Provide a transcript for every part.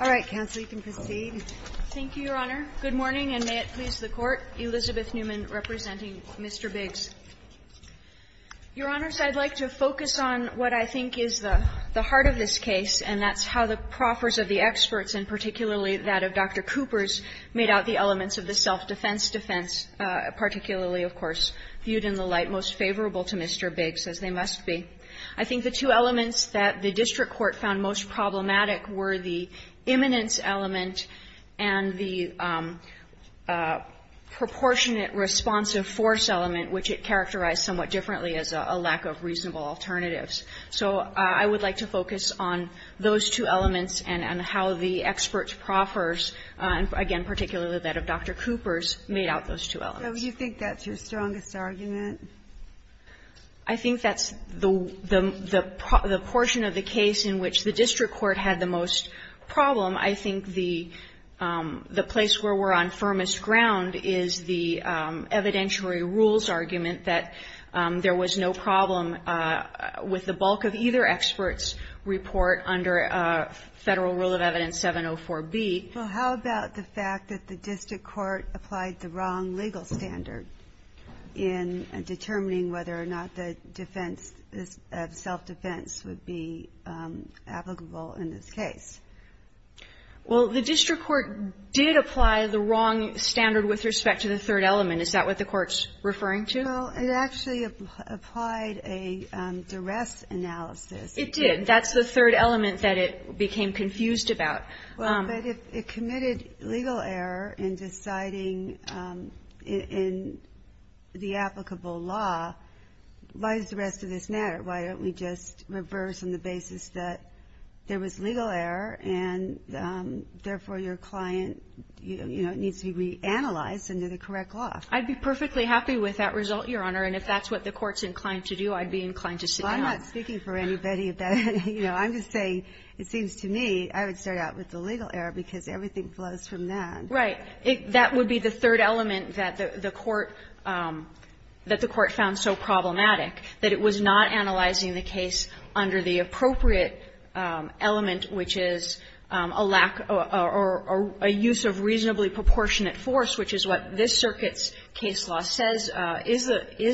All right, counsel, you can proceed. Thank you, Your Honor. Good morning, and may it please the Court. Elizabeth Newman, representing Mr. Biggs. Your Honors, I'd like to focus on what I think is the heart of this case, and that's how the proffers of the experts, and particularly that of Dr. Coopers, made out the elements of the self-defense defense, particularly, of course, viewed in the light most favorable to Mr. Biggs, as they must be. I think the two elements that the district court found most problematic were the imminence element and the proportionate responsive force element, which it characterized somewhat differently as a lack of reasonable alternatives. So I would like to focus on those two elements and how the experts proffers, again, particularly that of Dr. Coopers, made out those two elements. So you think that's your strongest argument? I think that's the portion of the case in which the district court had the most problem. I think the place where we're on firmest ground is the evidentiary rules argument that there was no problem with the bulk of either expert's report under Federal Rule of Evidence 704B. Well, how about the fact that the district court applied the wrong legal standard in determining whether or not the defense of self-defense would be applicable in this case? Well, the district court did apply the wrong standard with respect to the third element. Is that what the Court's referring to? Well, it actually applied a duress analysis. It did. That's the third element that it became confused about. But if it committed legal error in deciding in the applicable law, why does the rest of this matter? Why don't we just reverse on the basis that there was legal error and therefore your client needs to be reanalyzed under the correct law? I'd be perfectly happy with that result, Your Honor. And if that's what the Court's inclined to do, I'd be inclined to sit down. Well, I'm not speaking for anybody. I'm just saying it seems to me I would start out with the legal error, because everything flows from that. Right. That would be the third element that the Court found so problematic, that it was not analyzing the case under the appropriate element, which is a lack or a use of reasonably proportionate force, which is what this circuit's case law says is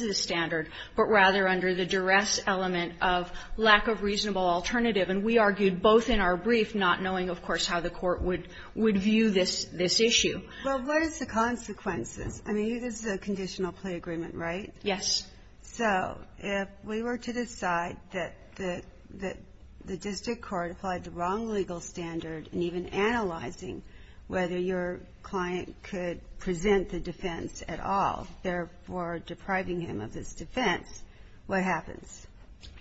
the standard, but rather under the duress element of lack of reasonable alternative. And we argued both in our brief, not knowing, of course, how the Court would view this issue. Well, what is the consequences? I mean, this is a conditional plea agreement, right? Yes. So if we were to decide that the district court applied the wrong legal standard in even analyzing whether your client could present the defense at all, therefore depriving him of his defense, what happens?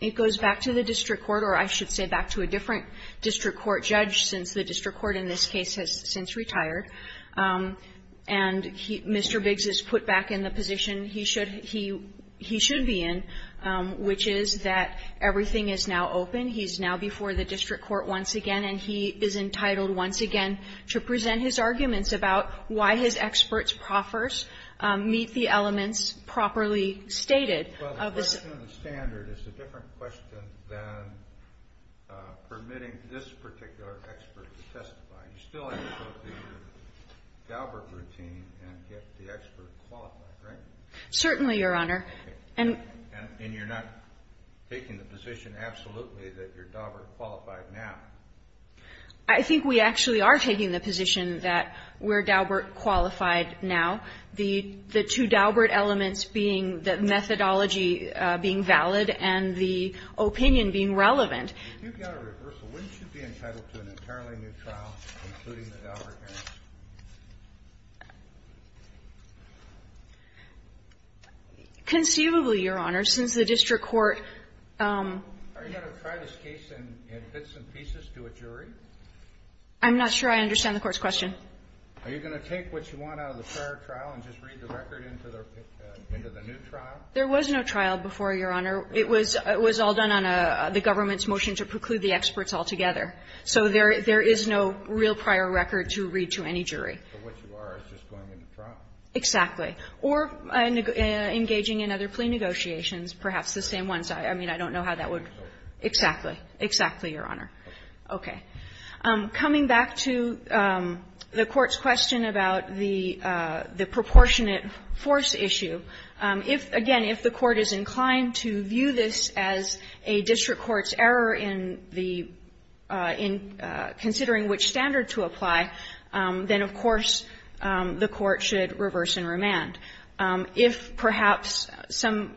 It goes back to the district court, or I should say back to a different district court judge, since the district court in this case has since retired. And Mr. Biggs is put back in the position he should be in, which is that everything is now open. He's now before the district court once again, and he is entitled once again to present his arguments about why his experts proffers meet the elements properly stated of the standard. It's a different question than permitting this particular expert to testify. You still have to go through your Daubert routine and get the expert qualified, right? Certainly, Your Honor. And you're not taking the position absolutely that you're Daubert qualified now. I think we actually are taking the position that we're Daubert qualified now. The two Daubert elements being the methodology being valid and the opinion being relevant. If you got a reversal, wouldn't you be entitled to an entirely new trial, including the Daubert case? Conceivably, Your Honor, since the district court ---- Are you going to try this case in bits and pieces to a jury? I'm not sure I understand the Court's question. Are you going to take what you want out of the prior trial and just read the record into the new trial? There was no trial before, Your Honor. It was all done on the government's motion to preclude the experts altogether. So there is no real prior record to read to any jury. So what you are is just going into trial? Exactly. Or engaging in other plea negotiations, perhaps the same ones. I mean, I don't know how that would ---- Exactly. Exactly, Your Honor. Okay. Coming back to the Court's question about the proportionate force issue, if, again, if the Court is inclined to view this as a district court's error in the ---- in considering which standard to apply, then, of course, the Court should reverse and remand. If, perhaps, some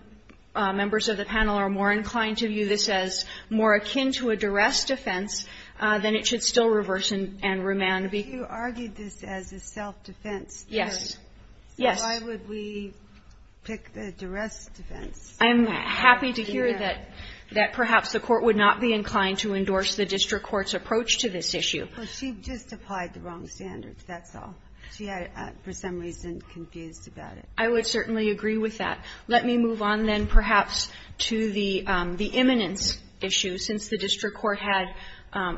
members of the panel are more inclined to view this as more akin to a duress defense, then it should still reverse and remand. But you argued this as a self-defense error. Yes. Yes. Why would we pick the duress defense? I'm happy to hear that perhaps the Court would not be inclined to endorse the district court's approach to this issue. But she just applied the wrong standards, that's all. She had, for some reason, confused about it. I would certainly agree with that. Let me move on then, perhaps, to the imminence issue, since the district court had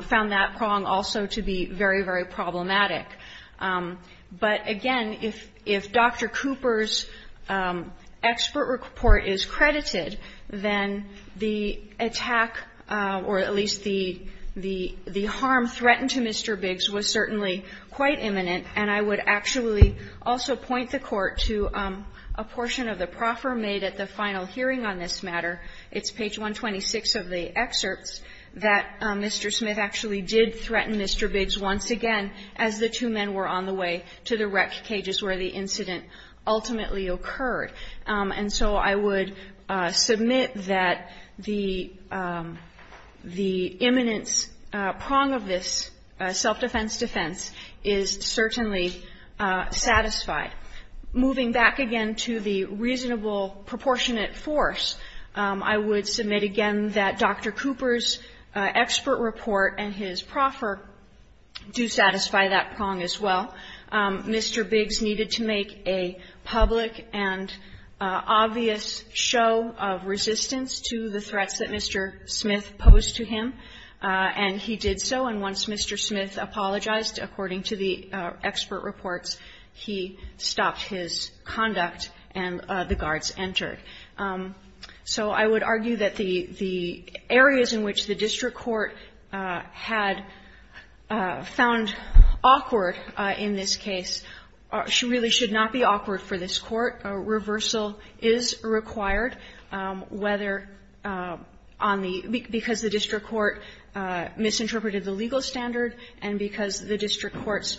found that prong also to be very, very problematic. But, again, if Dr. Cooper's expert report is credited, then the attack, or at least the harm threatened to Mr. Biggs was certainly quite imminent, and I would actually also point the Court to a portion of the proffer made at the final hearing on this matter, it's page 126 of the excerpts, that Mr. Smith actually did threaten Mr. Biggs once again as the two men were on the way to the wrecked cages where the incident ultimately occurred. And so I would submit that the imminence prong of this self-defense defense is certainly satisfied. Moving back again to the reasonable proportionate force, I would submit again that Dr. Cooper's expert report and his proffer do satisfy that prong as well. Mr. Biggs needed to make a public and obvious show of resistance to the threats that Mr. Smith posed to him, and he did so. And once Mr. Smith apologized, according to the expert reports, he stopped his conduct and the guards entered. So I would argue that the areas in which the district court had found awkward in this case really should not be awkward for this Court. A reversal is required, whether on the – because the district court misinterpreted the legal standard and because the district court's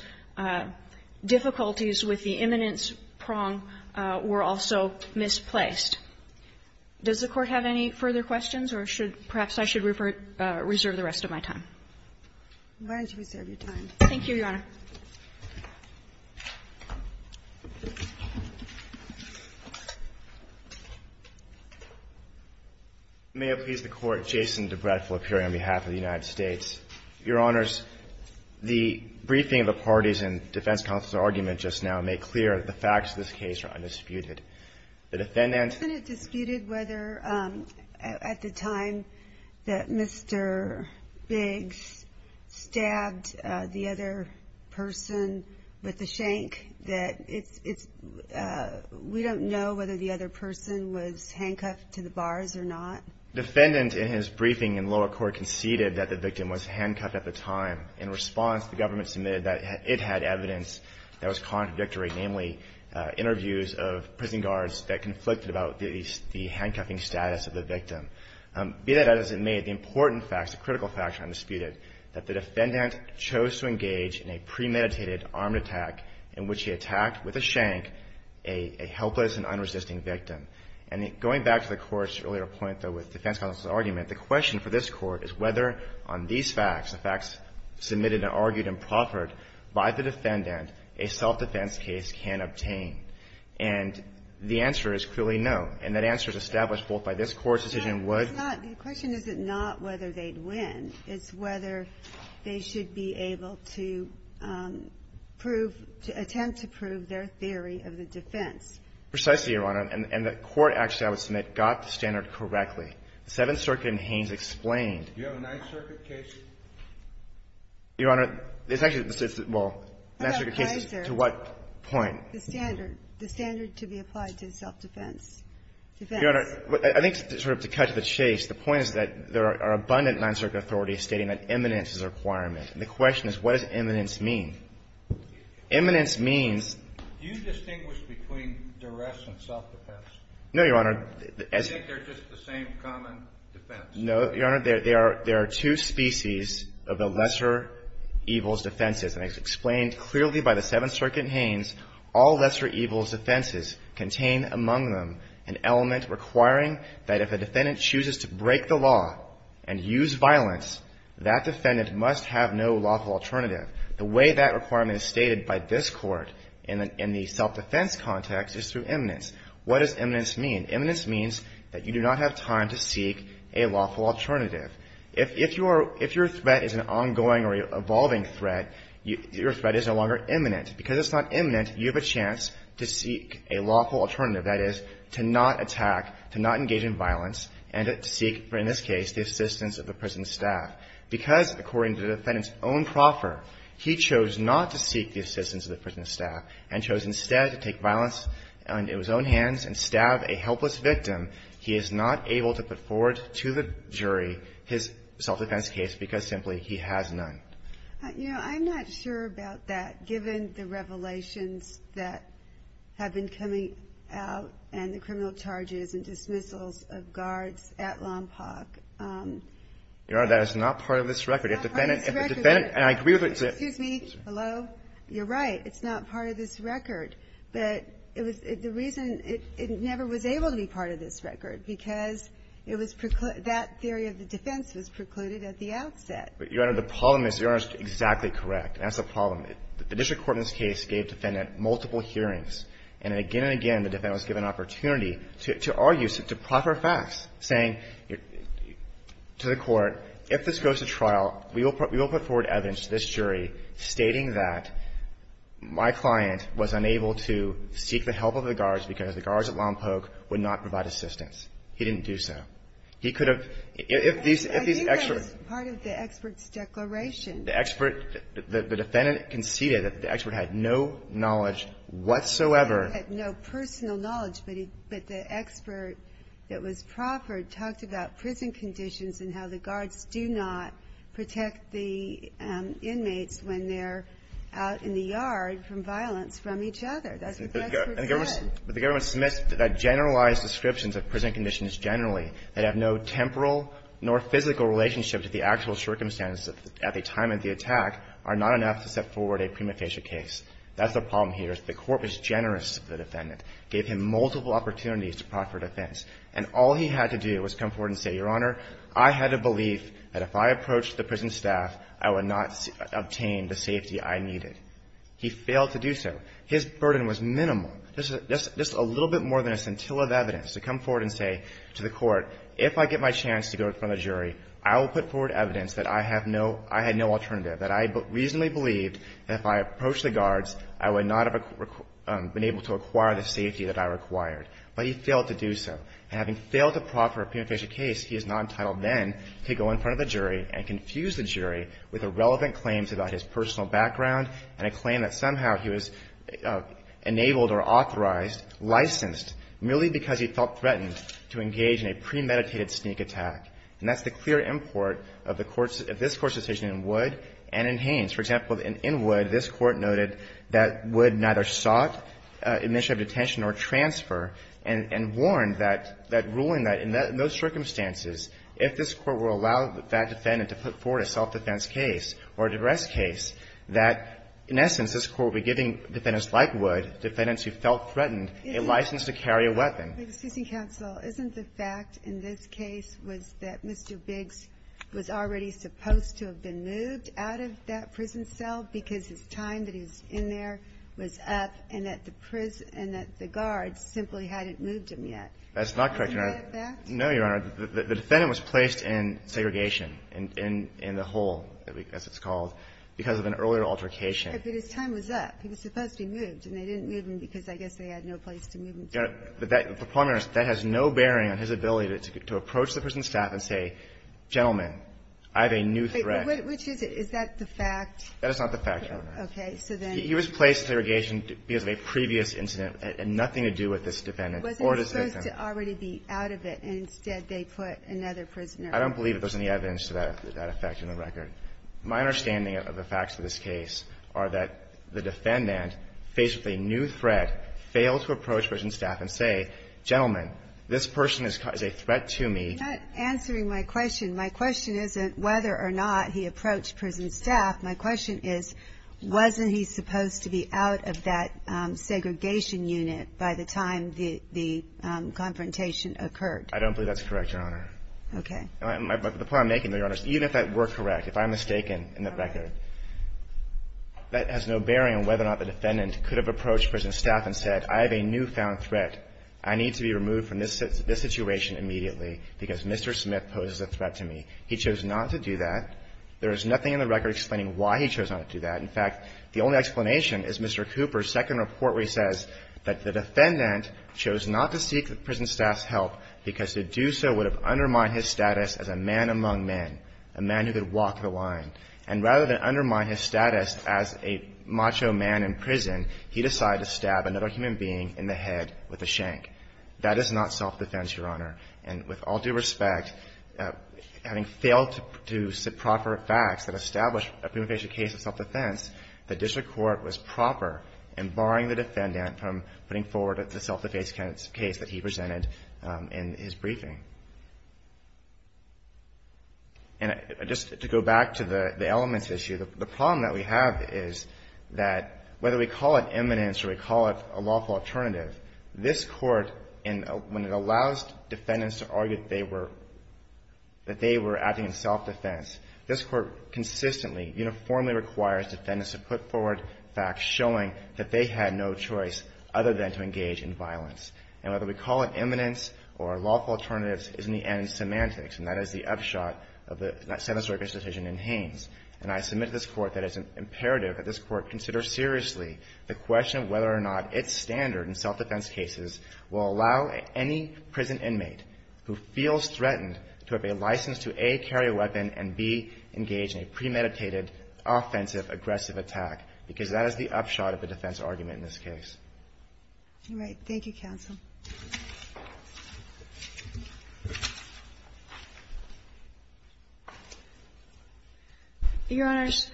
difficulties with the imminence prong were also misplaced. Does the Court have any further questions, or should – perhaps I should reserve the rest of my time? Why don't you reserve your time? Thank you, Your Honor. May it please the Court, Jason DeBrett for appearing on behalf of the United States. Your Honors, the briefing of the parties and defense counsel's argument just now made clear that the facts of this case are undisputed. The defendant – The defendant disputed whether, at the time that Mr. Biggs stabbed the other person with the shank, that it's – we don't know whether the other person was handcuffed to the bars or not. The defendant, in his briefing in lower court, conceded that the victim was handcuffed at the time. In response, the government submitted that it had evidence that was contradictory, namely interviews of prison guards that conflicted about the handcuffing status of the victim. Be that as it may, the important facts, the critical facts are undisputed, that the defendant chose to engage in a premeditated armed attack in which he attacked with a shank a helpless and unresisting victim. And going back to the Court's earlier point, though, with defense counsel's argument, the question for this Court is whether on these facts, the facts submitted and argued and proffered by the defendant, a self-defense case can obtain. And the answer is clearly no. And that answer is established both by this Court's decision would – It's not – the question is not whether they'd win. It's whether they should be able to prove – to attempt to prove their theory of the defense. Precisely, Your Honor. And the Court actually, I would submit, got the standard correctly. The Seventh Circuit in Haynes explained – Do you have a Ninth Circuit case? Your Honor, it's actually – well, the Ninth Circuit case is – What about the Kaiser? To what point? The standard. The standard to be applied to self-defense. Defense. Your Honor, I think to sort of cut to the chase, the point is that there are abundant Ninth Circuit authorities stating that imminence is a requirement. And the question is, what does imminence mean? Imminence means – Do you distinguish between duress and self-defense? No, Your Honor. Do you think they're just the same common defense? No, Your Honor. There are two species of the lesser evil's defenses. And as explained clearly by the Seventh Circuit in Haynes, all lesser evil's defenses contain among them an element requiring that if a defendant chooses to break the law and use violence, that defendant must have no lawful alternative. The way that requirement is stated by this Court in the self-defense context is through imminence. What does imminence mean? Imminence means that you do not have time to seek a lawful alternative. If your threat is an ongoing or evolving threat, your threat is no longer imminent. Because it's not imminent, you have a chance to seek a lawful alternative. That is, to not attack, to not engage in violence, and to seek, in this case, the assistance of the prison staff. Because, according to the defendant's own proffer, he chose not to seek the assistance of the prison staff and chose instead to take violence into his own hands and stab a helpless victim, he is not able to put forward to the jury his self-defense case because simply he has none. Your Honor, I'm not sure about that, given the revelations that have been coming out and the criminal charges and dismissals of guards at Lompoc. Your Honor, that is not part of this record. It's not part of this record. And I agree with it. Excuse me. Hello? You're right. It's not part of this record. But it was the reason it never was able to be part of this record, because it was that theory of the defense was precluded at the outset. But, Your Honor, the problem is Your Honor is exactly correct. That's the problem. The district court in this case gave the defendant multiple hearings. And again and again, the defendant was given an opportunity to argue, to proffer facts, saying to the court, if this goes to trial, we will put forward evidence to this jury stating that my client was unable to seek the help of the guards because the guards at Lompoc would not provide assistance. He didn't do so. He could have – if these experts – I think that was part of the expert's declaration. The expert – the defendant conceded that the expert had no knowledge whatsoever had no personal knowledge, but the expert that was proffered talked about prison conditions and how the guards do not protect the inmates when they're out in the yard from violence from each other. That's what the expert said. But the government submits generalized descriptions of prison conditions generally that have no temporal nor physical relationship to the actual circumstances at the time of the attack are not enough to set forward a prima facie case. That's the problem here. If the court was generous to the defendant, gave him multiple opportunities to proffer defense, and all he had to do was come forward and say, Your Honor, I had a belief that if I approached the prison staff, I would not obtain the safety I needed. He failed to do so. His burden was minimal, just a little bit more than a scintilla of evidence to come forward and say to the court, if I get my chance to go in front of the jury, I will put forward evidence that I have no – I had no alternative, that I reasonably believed that if I approached the guards, I would not have been able to acquire the safety that I required. But he failed to do so. And having failed to proffer a prima facie case, he is not entitled then to go in front of the jury and confuse the jury with irrelevant claims about his personal background and a claim that somehow he was enabled or authorized, licensed, merely because he felt threatened to engage in a premeditated sneak attack. And that's the clear import of the court's – of this Court's decision in Wood and in Haynes. For example, in Wood, this Court noted that Wood neither sought admission of detention or transfer, and warned that ruling that in those circumstances, if this Court will allow that defendant to put forward a self-defense case or a duress case, that in essence, this Court would be giving defendants like Wood, defendants who felt threatened, a license to carry a weapon. Excuse me, counsel. Isn't the fact in this case was that Mr. Biggs was already supposed to have been moved out of that prison cell because his time that he was in there was up, and that the prison – and that the guards simply hadn't moved him yet? That's not correct, Your Honor. Is that a fact? No, Your Honor. The defendant was placed in segregation, in the hole, as it's called, because of an earlier altercation. But his time was up. He was supposed to be moved, and they didn't move him because I guess they had no place to move him. Your Honor, the point is that has no bearing on his ability to approach the prison staff and say, gentlemen, I have a new threat. Wait. Which is it? Is that the fact? That is not the fact, Your Honor. Okay. So then he was placed in segregation because of a previous incident, and nothing to do with this defendant or this victim. Wasn't he supposed to already be out of it, and instead they put another prisoner in? I don't believe there's any evidence to that effect in the record. My understanding of the facts of this case are that the defendant, faced with a new threat, could have approached prison staff and said, gentlemen, this person is a threat to me. You're not answering my question. My question isn't whether or not he approached prison staff. My question is, wasn't he supposed to be out of that segregation unit by the time the confrontation occurred? I don't believe that's correct, Your Honor. Okay. The point I'm making, Your Honor, is even if that were correct, if I'm mistaken in the record, that has no bearing on whether or not the defendant could have approached prison staff and said, gentlemen, this person is a threat to me, I need to be removed from this situation immediately because Mr. Smith poses a threat to me, he chose not to do that, there is nothing in the record explaining why he chose not to do that. In fact, the only explanation is Mr. Cooper's second report where he says that the defendant chose not to seek the prison staff's help because to do so would have undermined his status as a man among men, a man who could walk the line. And rather than undermine his status as a macho man in prison, he decided to stab another human being in the head with a shank. That is not self-defense, Your Honor. And with all due respect, having failed to produce proper facts that establish a prima facie case of self-defense, the district court was proper in barring the defendant from putting forward the self-defense case that he presented in his briefing. And just to go back to the elements issue, the problem that we have is that whether we call it eminence or we call it a lawful alternative, this Court, when it allows defendants to argue that they were acting in self-defense, this Court consistently, uniformly requires defendants to put forward facts showing that they had no choice other than to engage in violence. And whether we call it eminence or lawful alternatives is, in the end, semantics, and that is the upshot of the sentence or execution in Haines. And I submit to this Court that it's imperative that this Court consider seriously the question of whether or not its standard in self-defense cases will allow any prison inmate who feels threatened to have a license to, A, carry a weapon, and, B, engage in a premeditated, offensive, aggressive attack, because that is the upshot of the defense argument in this case. All right. Thank you, counsel. Your Honors,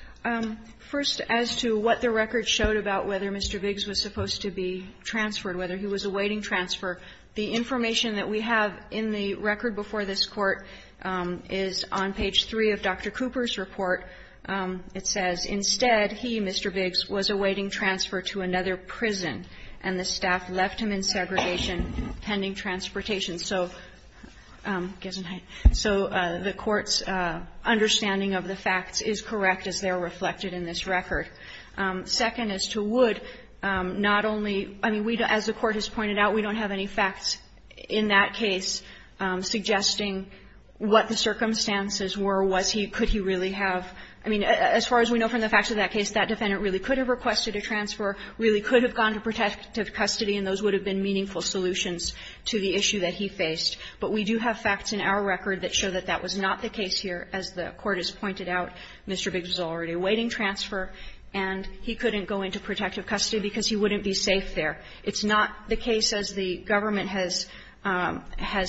first, as to what the record showed about whether Mr. Biggs was supposed to be transferred, whether he was awaiting transfer, the information that we have in the record before this Court is on page 3 of Dr. Cooper's report. It says, "...instead he, Mr. Biggs, was awaiting transfer to another prison, and the staff left him in segregation pending transportation." So the Court's understanding of the facts is correct as they are reflected in this record. Second, as to Wood, not only – I mean, as the Court has pointed out, we don't have any facts in that case suggesting what the circumstances were, was he – could he really have – I mean, as far as we know from the facts of that case, that defendant really could have requested a transfer, really could have gone to protective custody, and those would have been meaningful solutions to the issue that he faced. But we do have facts in our record that show that that was not the case here. As the Court has pointed out, Mr. Biggs was already awaiting transfer, and he couldn't go into protective custody because he wouldn't be safe there. It's not the case, as the government has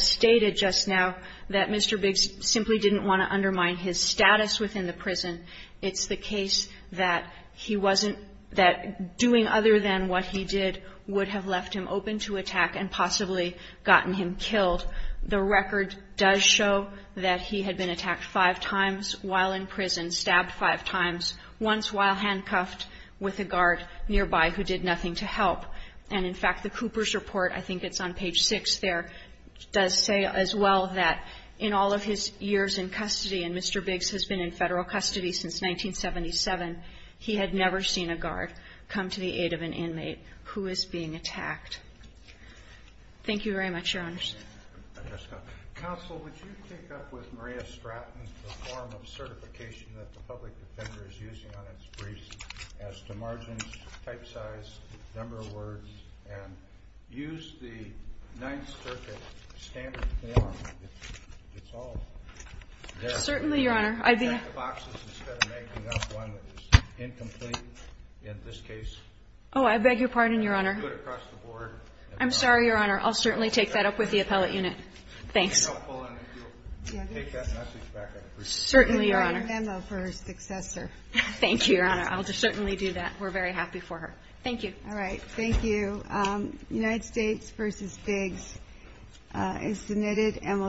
stated just now, that Mr. Biggs simply didn't want to undermine his status within the prison. It's the case that he wasn't – that doing other than what he did would have left him open to attack and possibly gotten him killed. The record does show that he had been attacked five times while in prison, stabbed five times, once while handcuffed with a guard nearby who did nothing to help. And, in fact, the Cooper's report – I think it's on page 6 there – does say as well that in all of his years in custody, and Mr. Biggs has been in Federal custody since 1977, he had never seen a guard come to the aid of an inmate who was being attacked. Thank you very much, Your Honors. Counsel, would you pick up with Maria Stratton the form of certification that the public defender is using on its briefs as to margins, type size, number of words, and use the Ninth Circuit standard form? It's all there. Certainly, Your Honor. Can you check the boxes instead of making up one that is incomplete in this case? Oh, I beg your pardon, Your Honor. I'm sorry, Your Honor. I'll certainly take that up with the appellate unit. Thanks. And I'll pull in if you'll take that message back on the briefs. Certainly, Your Honor. And write a memo for her successor. Thank you, Your Honor. I'll certainly do that. We're very happy for her. Thank you. All right. Thank you. United States v. Biggs is submitted.